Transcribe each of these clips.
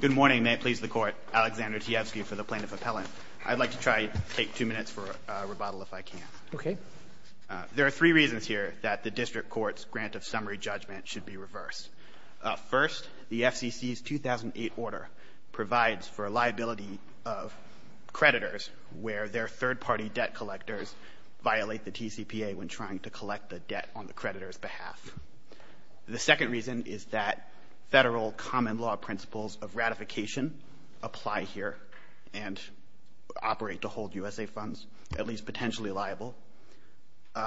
Good morning. May it please the Court. Alexander Teofsky for the Plaintiff Appellant. I'd like to try to take two minutes for a rebuttal if I can. Okay. There are three reasons here that the District Court's grant of summary judgment should be reversed. First, the FCC's 2008 order provides for a liability of creditors where their third-party debt collectors violate the TCPA when trying to collect the debt on the creditor's behalf. The second reason is that federal common law principles of ratification apply here and operate to hold USA funds at least potentially liable.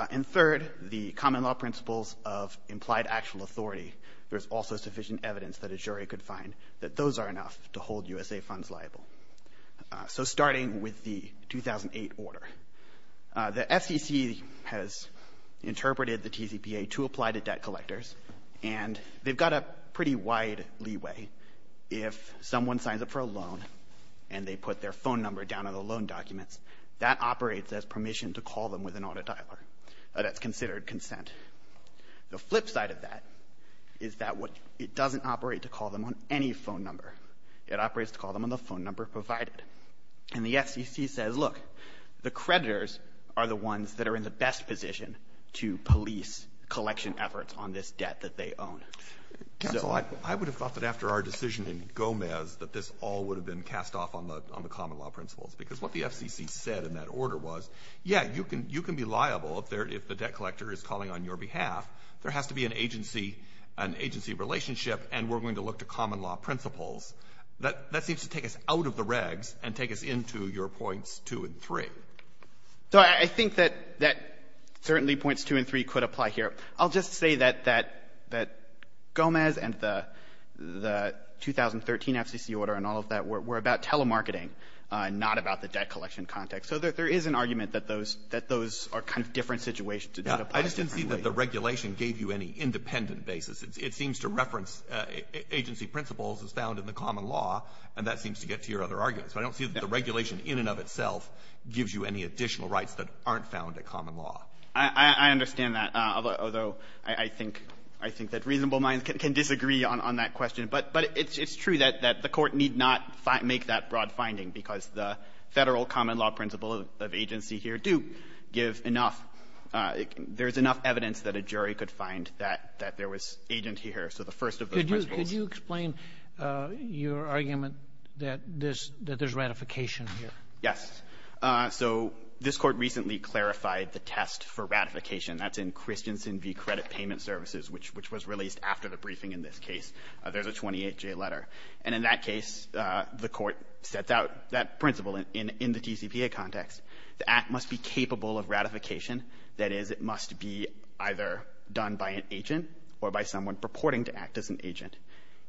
And third, the common law principles of implied actual authority, there's also sufficient evidence that a jury could find that those are enough to hold USA funds liable. So starting with the 2008 order, the FCC has interpreted the TCPA to apply to debt collectors, and they've got a pretty wide leeway. If someone signs up for a loan and they put their phone number down on the loan documents, that operates as permission to call them with an auto dialer. That's considered consent. The flip side of that is that it doesn't operate to call them on any phone number. It operates to call them on the phone number provided. And the FCC says, look, the creditors are the ones that are in the best position to police collection efforts on this debt that they own. So I would have thought that after our decision in Gomez that this all would have been cast off on the common law principles, because what the FCC said in that order was, yeah, you can be liable if the debt collector is calling on your behalf. There has to be an agency relationship, and we're going to look to common law principles that seems to take us out of the regs and take us into your points 2 and 3. So I think that certainly points 2 and 3 could apply here. I'll just say that Gomez and the 2013 FCC order and all of that were about telemarketing, not about the debt collection context. So there is an argument that those are kind of different situations. I just didn't see that the regulation gave you any independent basis. It seems to reference agency principles as found in the common law, and that seems to get to your other arguments. But I don't see that the regulation in and of itself gives you any additional rights that aren't found in common law. I understand that, although I think that reasonable minds can disagree on that question. But it's true that the Court need not make that broad finding, because the Federal common law principle of agency here do give enough. There's enough evidence that a jury could find that there was agent here, so the first of those principles. Could you explain your argument that there's ratification here? Yes. So this Court recently clarified the test for ratification. That's in Christensen v. Credit Payment Services, which was released after the briefing in this case. There's a 28-J letter. And in that case, the Court sets out that principle in the TCPA context. The act must be capable of ratification. That is, it must be either done by an agent or by someone purporting to act as an agent.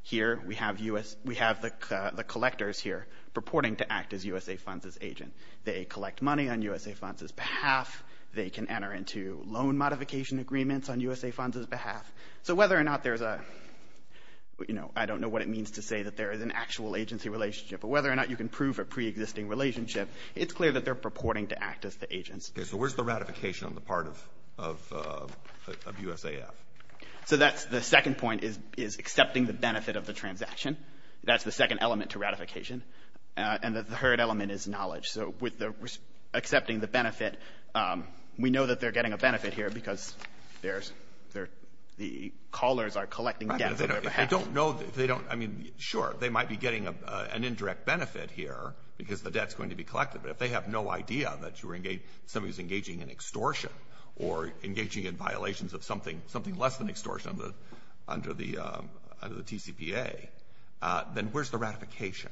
Here we have U.S. We have the collectors here purporting to act as USA Funds' agent. They collect money on USA Funds' behalf. They can enter into loan modification agreements on USA Funds' behalf. So whether or not there's a, you know, I don't know what it means to say that there is an actual agency relationship, but whether or not you can prove a preexisting relationship, it's clear that they're purporting to act as the agents. Okay. So where's the ratification on the part of USAF? So that's the second point is accepting the benefit of the transaction. That's the second element to ratification. And the third element is knowledge. So with the accepting the benefit, we know that they're getting a benefit here because the callers are collecting debt from their behalf. Right. But if they don't know, if they don't, I mean, sure, they might be getting an indirect benefit here because the debt's going to be collected. But if they have no idea that you're engaging, somebody's engaging in extortion or engaging in violations of something less than extortion under the TCPA, then where's the ratification?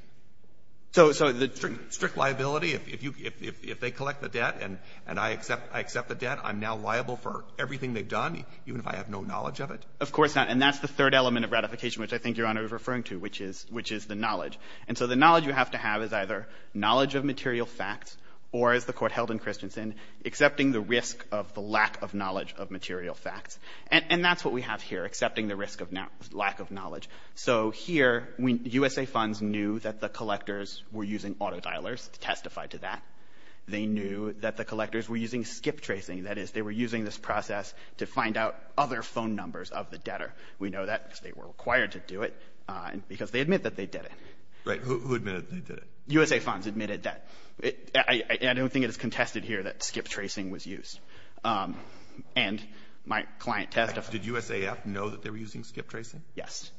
So the strict liability, if they collect the debt and I accept the debt, I'm now liable for everything they've done, even if I have no knowledge of it? Of course not. And that's the third element of ratification, which I think Your Honor is referring to, which is the knowledge. And so the knowledge you have to have is either knowledge of material facts or, as the Court held in Christensen, accepting the risk of the lack of knowledge of material facts. And that's what we have here, accepting the risk of lack of knowledge. So here, USA Funds knew that the collectors were using auto-dialers to testify to that. They knew that the collectors were using skip tracing. That is, they were using this process to find out other phone numbers of the debtor. We know that because they were required to do it because they admit that they did it. Right. Who admitted they did it? USA Funds admitted that. I don't think it is contested here that skip tracing was used. And my client testified. Did USAF know that they were using skip tracing? Yes.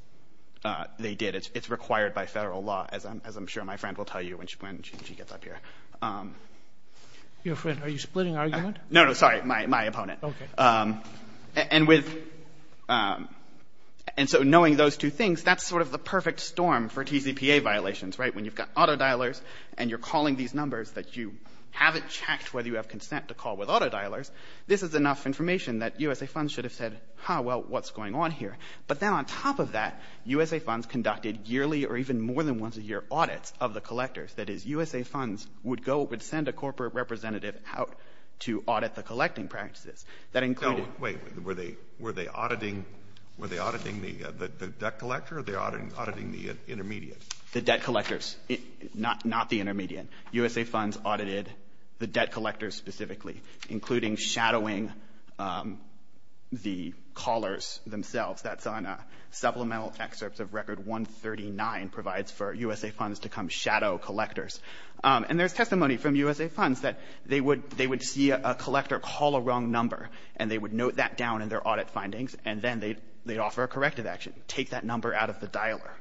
They did. It's required by federal law, as I'm sure my friend will tell you when she gets up here. Your friend. Are you splitting argument? No, no, sorry. My opponent. Okay. And with — and so knowing those two things, that's sort of the perfect storm for TCPA violations, right? When you've got auto-dialers and you're calling these numbers that you haven't checked whether you have consent to call with auto-dialers, this is enough information that USA Funds should have said, ha, well, what's going on here? But then on top of that, USA Funds conducted yearly or even more than once a year audits of the collectors. That is, USA Funds would go — would send a corporate representative out to audit the collecting practices. That included — Wait. Were they auditing — were they auditing the debt collector or they auditing the intermediate? The debt collectors. Not the intermediate. USA Funds audited the debt collectors specifically, including shadowing the callers themselves. That's on a supplemental excerpt of Record 139 provides for USA Funds to come shadow collectors. And there's testimony from USA Funds that they would — they would see a collector call a wrong number, and they would note that down in their audit findings, and then they'd offer a corrective action, take that number out of the dialer.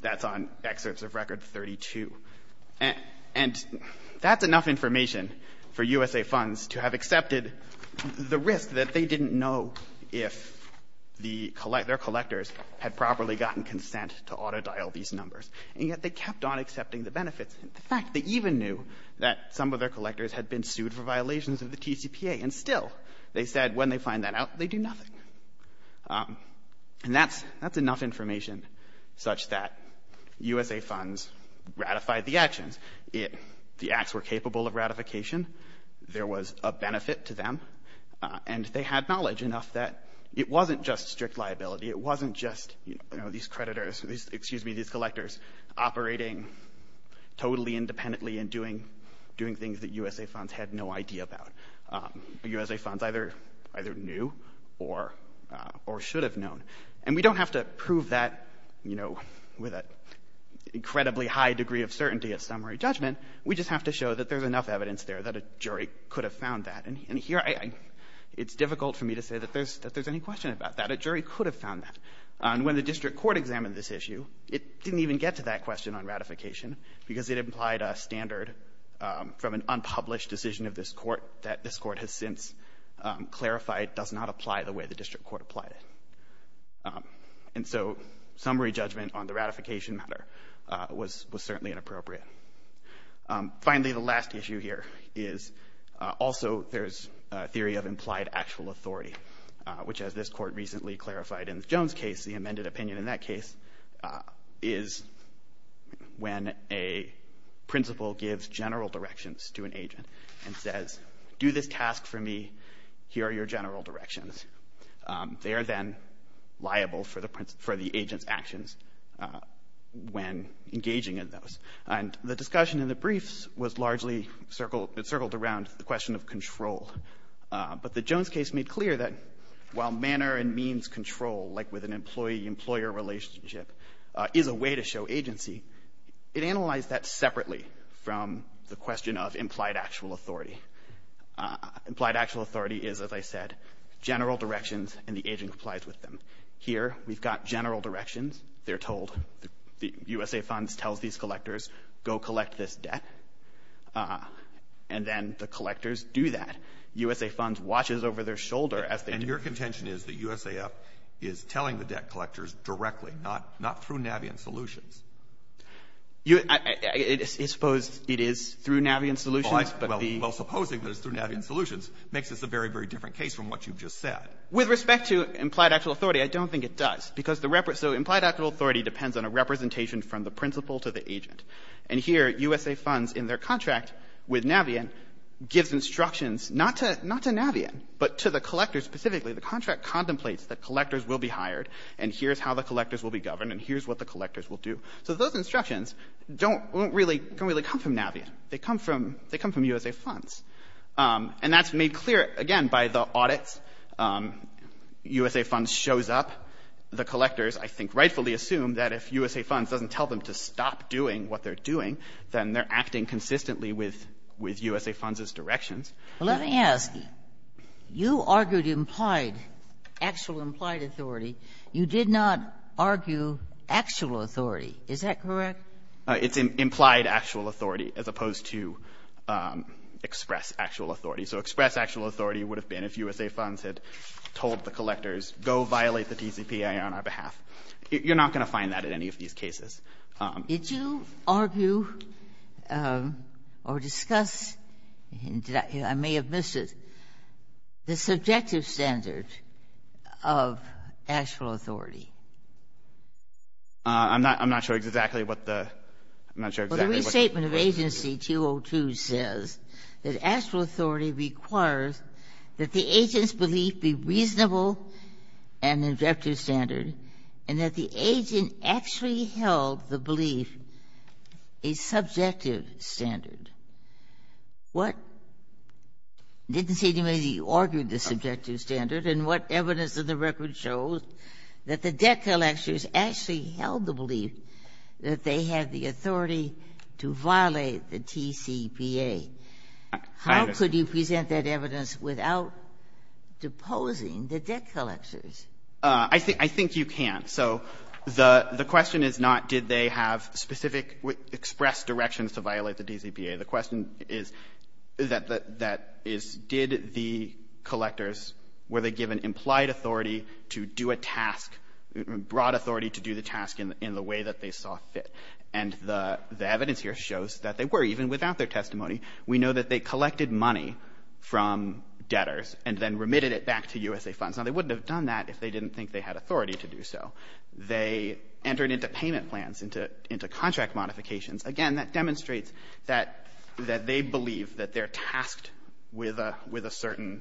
That's on excerpts of Record 32. And that's enough information for USA Funds to have accepted the risk that they didn't know if the — their collectors had properly gotten consent to auto-dial these numbers. And yet they kept on accepting the benefits. In fact, they even knew that some of their collectors had been sued for violations of the TCPA. And still, they said when they find that out, they do nothing. And that's — that's enough information such that USA Funds ratified the actions. The acts were capable of ratification. There was a benefit to them. And they had knowledge enough that it wasn't just strict liability. It wasn't just, you know, these creditors — excuse me, these collectors operating totally independently and doing — doing things that USA Funds had no idea about. USA Funds either — either knew or — or should have known. And we don't have to prove that, you know, with an incredibly high degree of certainty of summary judgment. We just have to show that there's enough evidence there that a jury could have found that. And here I — it's difficult for me to say that there's — that there's any question about that. But a jury could have found that. And when the district court examined this issue, it didn't even get to that question on ratification because it implied a standard from an unpublished decision of this court that this court has since clarified does not apply the way the district court applied it. And so summary judgment on the ratification matter was — was certainly inappropriate. Finally, the last issue here is also there's a theory of implied actual authority, which as this court recently clarified in the Jones case, the amended opinion in that case is when a principal gives general directions to an agent and says, do this task for me. Here are your general directions. They are then liable for the agent's actions when engaging in those. And the discussion in the briefs was largely circled — it circled around the question of control. But the Jones case made clear that while manner and means control, like with an employee-employer relationship, is a way to show agency, it analyzed that separately from the question of implied actual authority. Implied actual authority is, as I said, general directions and the agent complies with them. Here we've got general directions. They're told — the USA funds tells these collectors, go collect this debt, and then the collectors do that. USA funds watches over their shoulder as they do. And your contention is that USAF is telling the debt collectors directly, not — not through Navien Solutions? You — I — I suppose it is through Navien Solutions, but the — Well, supposing that it's through Navien Solutions makes this a very, very different case from what you've just said. With respect to implied actual authority, I don't think it does, because the — so implied actual authority depends on a representation from the principal to the agent. And here, USA funds, in their contract with Navien, gives instructions not to — not to Navien, but to the collector specifically. The contract contemplates that collectors will be hired, and here's how the collectors will be governed, and here's what the collectors will do. So those instructions don't — won't really — don't really come from Navien. They come from — they come from USA funds. And that's made clear, again, by the audits. USA funds shows up. The collectors, I think, rightfully assume that if USA funds doesn't tell them to stop doing what they're doing, then they're acting consistently with — with USA funds' directions. Kagan. Well, let me ask. You argued implied — actual implied authority. You did not argue actual authority. Is that correct? It's implied actual authority as opposed to express actual authority. So express actual authority would have been if USA funds had told the collectors, go violate the TCPA on our behalf. You're not going to find that at any of these cases. Did you argue or discuss — I may have missed it — the subjective standard of actual authority? I'm not — I'm not sure exactly what the — I'm not sure exactly what — Well, the restatement of agency 202 says that actual authority requires that the agent's belief be reasonable and objective standard, and that the agent actually held the belief a subjective standard. What — I didn't see anybody argue the subjective standard, and what evidence in the record shows that the debt collectors actually held the belief that they had the authority to violate the TCPA. How could you present that evidence without deposing the debt collectors? I think you can. So the question is not did they have specific express directions to violate the TCPA. The question is that is did the collectors, were they given implied authority to do a task, broad authority to do the task in the way that they saw fit. And the evidence here shows that they were. Even without their testimony, we know that they collected money from debtors and then remitted it back to USA Funds. Now, they wouldn't have done that if they didn't think they had authority to do so. They entered into payment plans, into contract modifications. Again, that demonstrates that they believe that they're tasked with a certain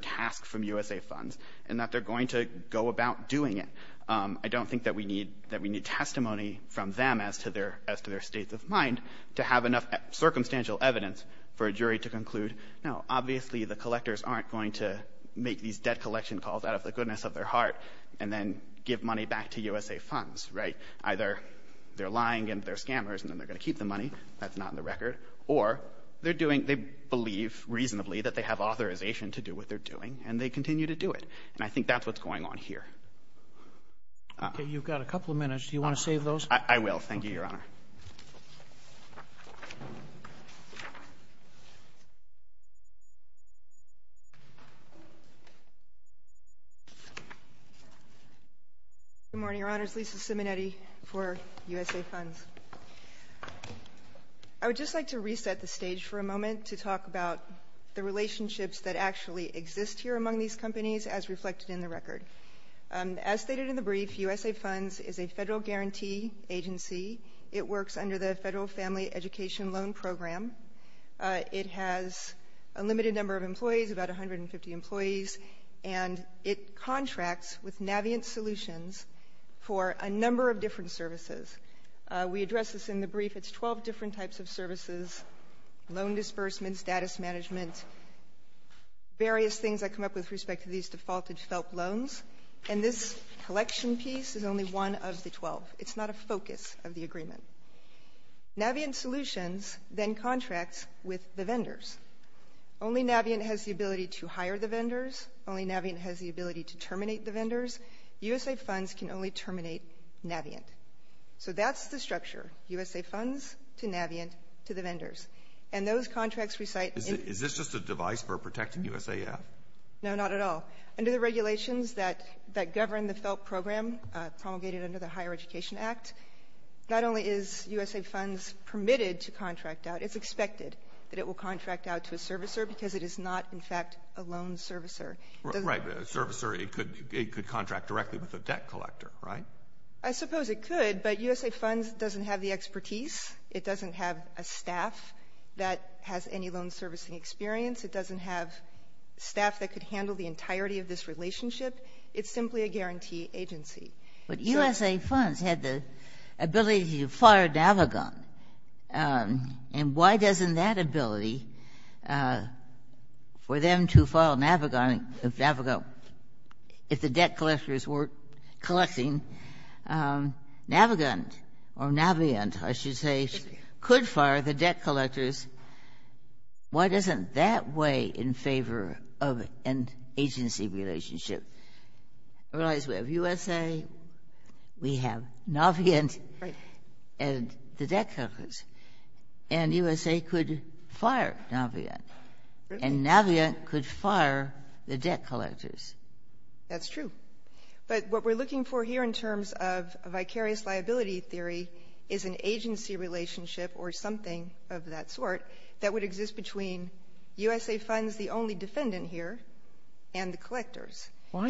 task from USA Funds and that they're going to go about doing it. I don't think that we need testimony from them as to their state of mind to have enough circumstantial evidence for a jury to conclude, no, obviously the collectors aren't going to make these debt collection calls out of the goodness of their heart and then give money back to USA Funds, right? Either they're lying and they're scammers and then they're going to keep the money. That's not in the record. Or they're doing they believe reasonably that they have authorization to do what they're doing, and they continue to do it. And I think that's what's going on here. Okay, you've got a couple of minutes. Do you want to save those? I will. Thank you, Your Honor. Good morning, Your Honors. Lisa Simonetti for USA Funds. I would just like to reset the stage for a moment to talk about the relationships that actually exist here among these companies as reflected in the record. As stated in the brief, USA Funds is a federal guarantee agency. It works under the Federal Family Education Loan Program. It has a limited number of employees, about 150 employees, and it contracts with Navient Solutions for a number of different services. We addressed this in the brief. It's 12 different types of services, loan disbursement, status management, various things that come up with respect to these defaulted felt loans. And this collection piece is only one of the 12. It's not a focus of the agreement. Navient Solutions then contracts with the vendors. Only Navient has the ability to hire the vendors. Only Navient has the ability to terminate the vendors. So that's the structure. USA Funds to Navient to the vendors. And those contracts recite the — Is this just a device for protecting USAF? No, not at all. Under the regulations that govern the felt program promulgated under the Higher Education Act, not only is USA Funds permitted to contract out, it's expected that it will contract out to a servicer because it is not, in fact, a loan servicer. Right. But a servicer, it could contract directly with a debt collector, right? I suppose it could, but USA Funds doesn't have the expertise. It doesn't have a staff that has any loan servicing experience. It doesn't have staff that could handle the entirety of this relationship. It's simply a guarantee agency. But USA Funds had the ability to file Navigon. And why doesn't that ability for them to file Navigon, if the debt collectors weren't collecting, Navigon or Navient, I should say, could fire the debt collectors, why doesn't that weigh in favor of an agency relationship? Realize we have USA, we have Navient and the debt collectors. And USA could fire Navient. And Navient could fire the debt collectors. That's true. But what we're looking for here in terms of vicarious liability theory is an agency relationship or something of that sort that would exist between USA Funds, the only defendant here, and the collectors. Why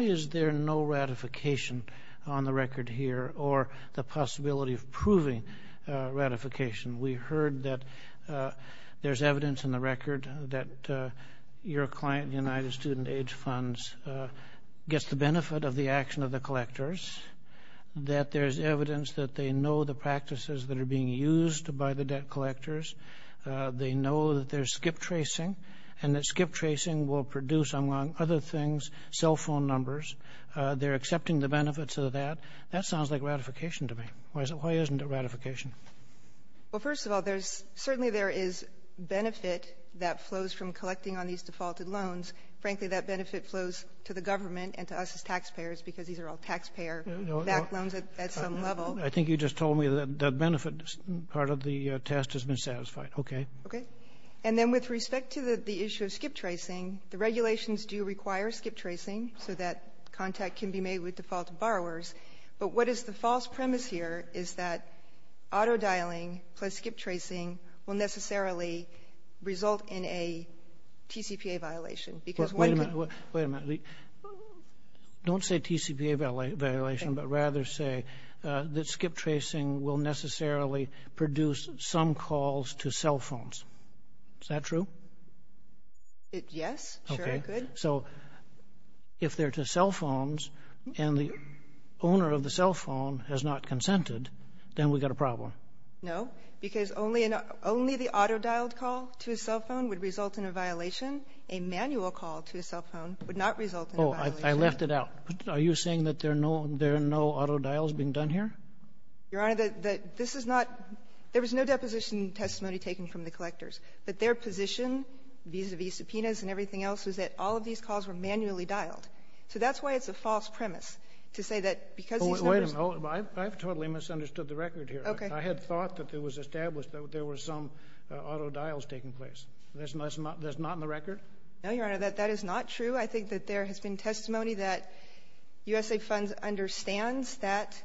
is there no ratification on the record here or the possibility of proving ratification? We heard that there's evidence in the record that your client, United Student Aid Funds, gets the benefit of the action of the collectors, that there's evidence that they know the practices that are being used by the debt collectors, they know that there's skip tracing, and that skip tracing will produce, among other things, cell phone numbers. They're accepting the benefits of that. That sounds like ratification to me. Why isn't it ratification? Well, first of all, certainly there is benefit that flows from collecting on these defaulted loans. Frankly, that benefit flows to the government and to us as taxpayers because these are all taxpayer-backed loans at some level. I think you just told me that benefit part of the test has been satisfied. Okay. Okay. And then with respect to the issue of skip tracing, the regulations do require skip tracing so that contact can be made with defaulted borrowers. But what is the false premise here is that auto dialing plus skip tracing will necessarily result in a TCPA violation because one can — Wait a minute. Wait a minute. Don't say TCPA violation, but rather say that skip tracing will necessarily produce some calls to cell phones. Is that true? Yes. Sure. Good. So if they're to cell phones and the owner of the cell phone has not consented, then we've got a problem. No, because only the auto-dialed call to a cell phone would result in a violation. A manual call to a cell phone would not result in a violation. Oh, I left it out. Are you saying that there are no auto dials being done here? Your Honor, this is not — there was no deposition testimony taken from the collectors, that their position vis-à-vis subpoenas and everything else was that all of these calls were manually dialed. So that's why it's a false premise to say that because these numbers — Wait a minute. I've totally misunderstood the record here. Okay. I had thought that it was established that there were some auto dials taking place. That's not in the record? No, Your Honor. That is not true. I think that there has been testimony that USA Funds understands that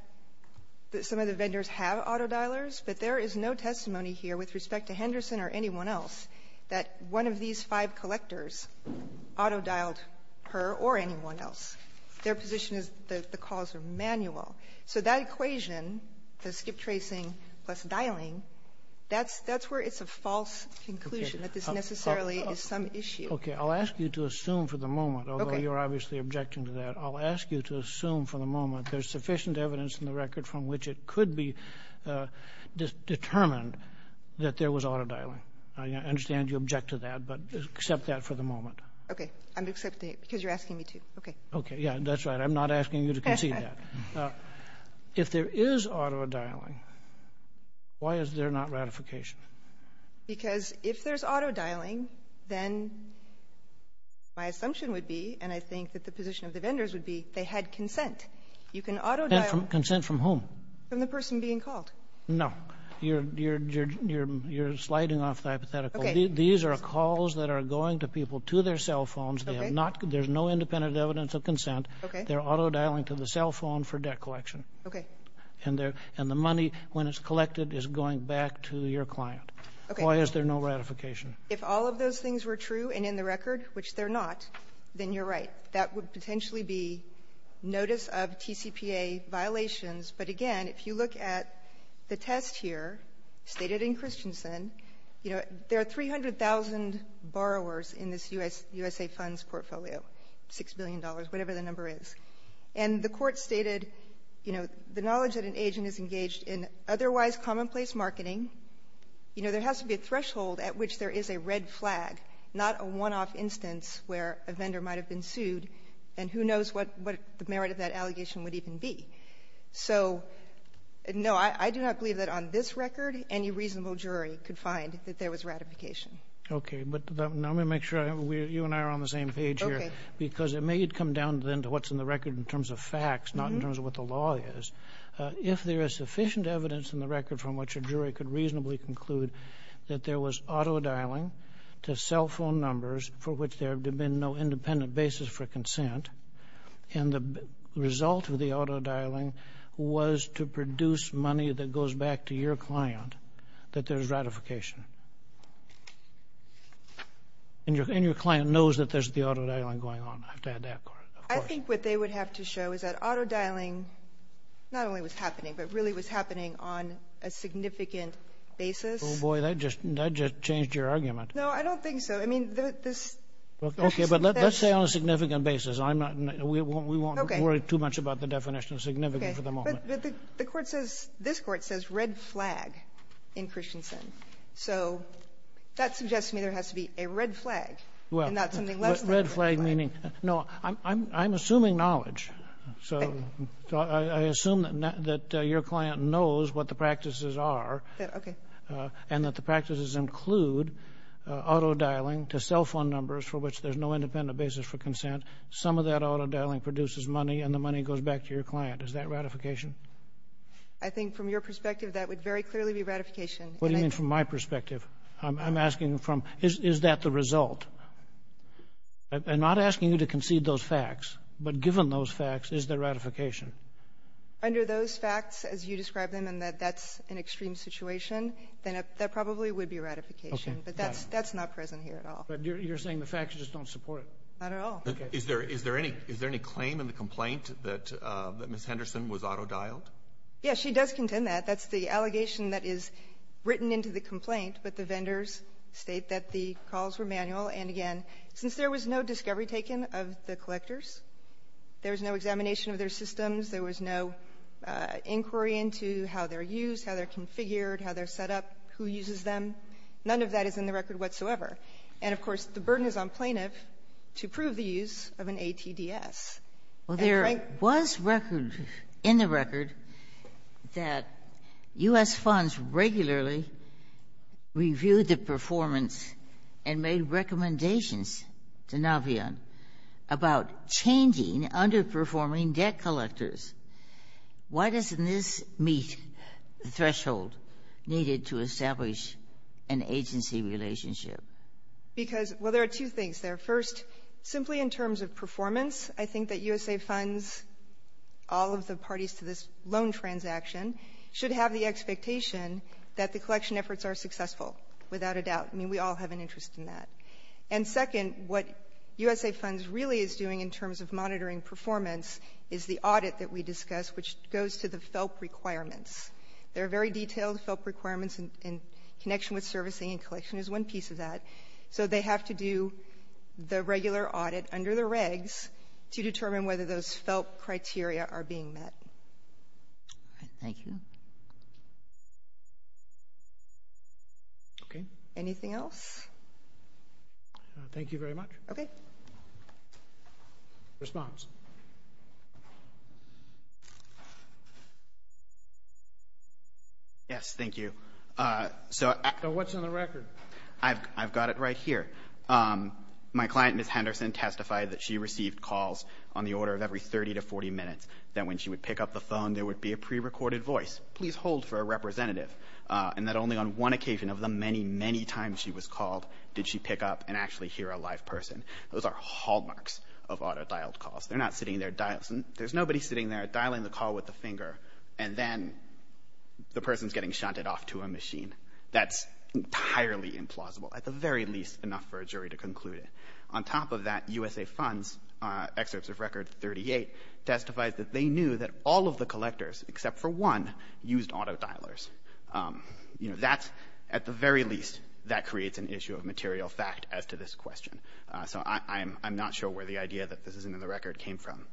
some of the vendors have auto dialers, but there is no testimony here with respect to Henderson or anyone else that one of these five collectors auto dialed her or anyone else. Their position is that the calls are manual. So that equation, the skip tracing plus dialing, that's where it's a false conclusion that this necessarily is some issue. Okay. I'll ask you to assume for the moment, although you're obviously objecting to that. I'll ask you to assume for the moment there's sufficient evidence in the record from which it could be determined that there was auto dialing. I understand you object to that, but accept that for the moment. Okay. I'm accepting it because you're asking me to. Okay. Okay. Yeah, that's right. I'm not asking you to concede that. If there is auto dialing, why is there not ratification? Because if there's auto dialing, then my assumption would be, You can auto dial — Consent from whom? From the person being called. No. You're sliding off the hypothetical. Okay. These are calls that are going to people to their cell phones. They have not — there's no independent evidence of consent. Okay. They're auto dialing to the cell phone for debt collection. Okay. And the money, when it's collected, is going back to your client. Okay. Why is there no ratification? If all of those things were true and in the record, which they're not, then you're right. That would potentially be notice of TCPA violations. But again, if you look at the test here, stated in Christensen, you know, there are 300,000 borrowers in this U.S.A. funds portfolio, $6 billion, whatever the number is. And the Court stated, you know, the knowledge that an agent is engaged in otherwise commonplace marketing, you know, there has to be a threshold at which there is a red flag, not a one-off instance where a vendor might have been sued, and who knows what the merit of that allegation would even be. So, no, I do not believe that on this record any reasonable jury could find that there was ratification. Okay. But let me make sure you and I are on the same page here. Okay. Because it may come down then to what's in the record in terms of facts, not in terms of what the law is. If there is sufficient evidence in the record from which a jury could reasonably conclude that there was auto-dialing to cell phone numbers for which there had been no independent basis for consent, and the result of the auto-dialing was to produce money that goes back to your client, that there is ratification. And your client knows that there's the auto-dialing going on. I have to add that, of course. I think what they would have to show is that auto-dialing not only was happening, but really was happening on a significant basis. Oh, boy. That just changed your argument. No, I don't think so. I mean, this ---- Okay. But let's say on a significant basis. I'm not going to ---- Okay. We won't worry too much about the definition of significant for the moment. Okay. But the Court says, this Court says red flag in Christensen. So that suggests to me there has to be a red flag and not something less than a red flag. Well, red flag meaning no. I'm assuming knowledge. So I assume that your client knows what the practices are. Okay. And that the practices include auto-dialing to cell phone numbers for which there's no independent basis for consent. Some of that auto-dialing produces money, and the money goes back to your client. Is that ratification? I think from your perspective, that would very clearly be ratification. And I think ---- What do you mean from my perspective? I'm asking from, is that the result? I'm not asking you to concede those facts. But given those facts, is there ratification? Under those facts, as you describe them, and that that's an extreme situation, then that probably would be ratification. Okay. But that's not present here at all. But you're saying the facts just don't support it? Not at all. Is there any claim in the complaint that Ms. Henderson was auto-dialed? Yes, she does contend that. That's the allegation that is written into the complaint, but the vendors state that the calls were manual. And, again, since there was no discovery taken of the collectors, there was no examination of their systems, there was no inquiry into how they're used, how they're configured, how they're set up, who uses them, none of that is in the record whatsoever. And, of course, the burden is on plaintiff to prove the use of an ATDS. Well, there was record in the record that U.S. funds regularly reviewed the performance and made recommendations to Navion about changing underperforming debt collectors. Why doesn't this meet the threshold needed to establish an agency relationship? Because, well, there are two things there. First, simply in terms of performance, I think that U.S.A. funds, all of the parties to this loan transaction, should have the expectation that the collection efforts are successful, without a doubt. I mean, we all have an interest in that. And, second, what U.S.A. funds really is doing in terms of monitoring performance is the audit that we discussed, which goes to the FELP requirements. There are very detailed FELP requirements, and connection with servicing and collection is one piece of that. So they have to do the regular audit under the regs to determine whether those FELP criteria are being met. All right. Thank you. Okay. Anything else? Thank you very much. Okay. Response. Yes. Thank you. So what's on the record? I've got it right here. My client, Ms. Henderson, testified that she received calls on the order of every 30 to 40 minutes, that when she would pick up the phone, there would be a prerecorded voice. Please hold for a representative. And that only on one occasion of the many, many times she was called did she pick up and actually hear a live person. Those are hallmarks of auto-dialed calls. They're not sitting there dialing. There's nobody sitting there dialing the call with the finger, and then the person's getting shunted off to a machine. That's entirely implausible, at the very least enough for a jury to conclude it. On top of that, USA Fund's excerpts of Record 38 testifies that they knew that all of the collectors, except for one, used auto-dialers. You know, that's at the very least that creates an issue of material fact as to this question. So I'm not sure where the idea that this isn't in the record came from.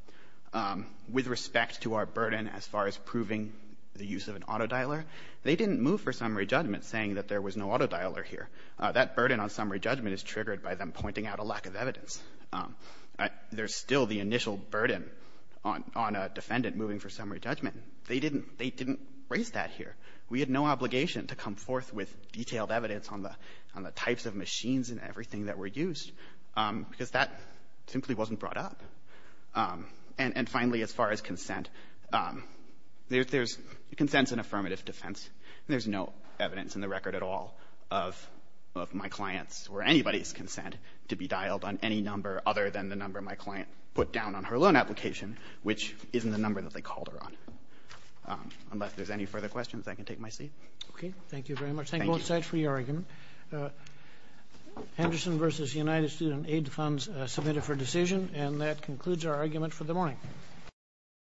With respect to our burden as far as proving the use of an auto-dialer, they didn't move for summary judgment saying that there was no auto-dialer here. That burden on summary judgment is triggered by them pointing out a lack of evidence. There's still the initial burden on a defendant moving for summary judgment. They didn't raise that here. We had no obligation to come forth with detailed evidence on the types of machines and everything that were used, because that simply wasn't brought up. And finally, as far as consent, consent's an affirmative defense. There's no evidence in the record at all of my client's or anybody's consent to be dialed on any number other than the number my client put down on her loan application, which isn't the number that they called her on. Unless there's any further questions, I can take my seat. Okay, thank you very much. Thank you both sides for your argument. Henderson v. United Student Aid Funds submitted for decision, and that concludes our argument for the morning.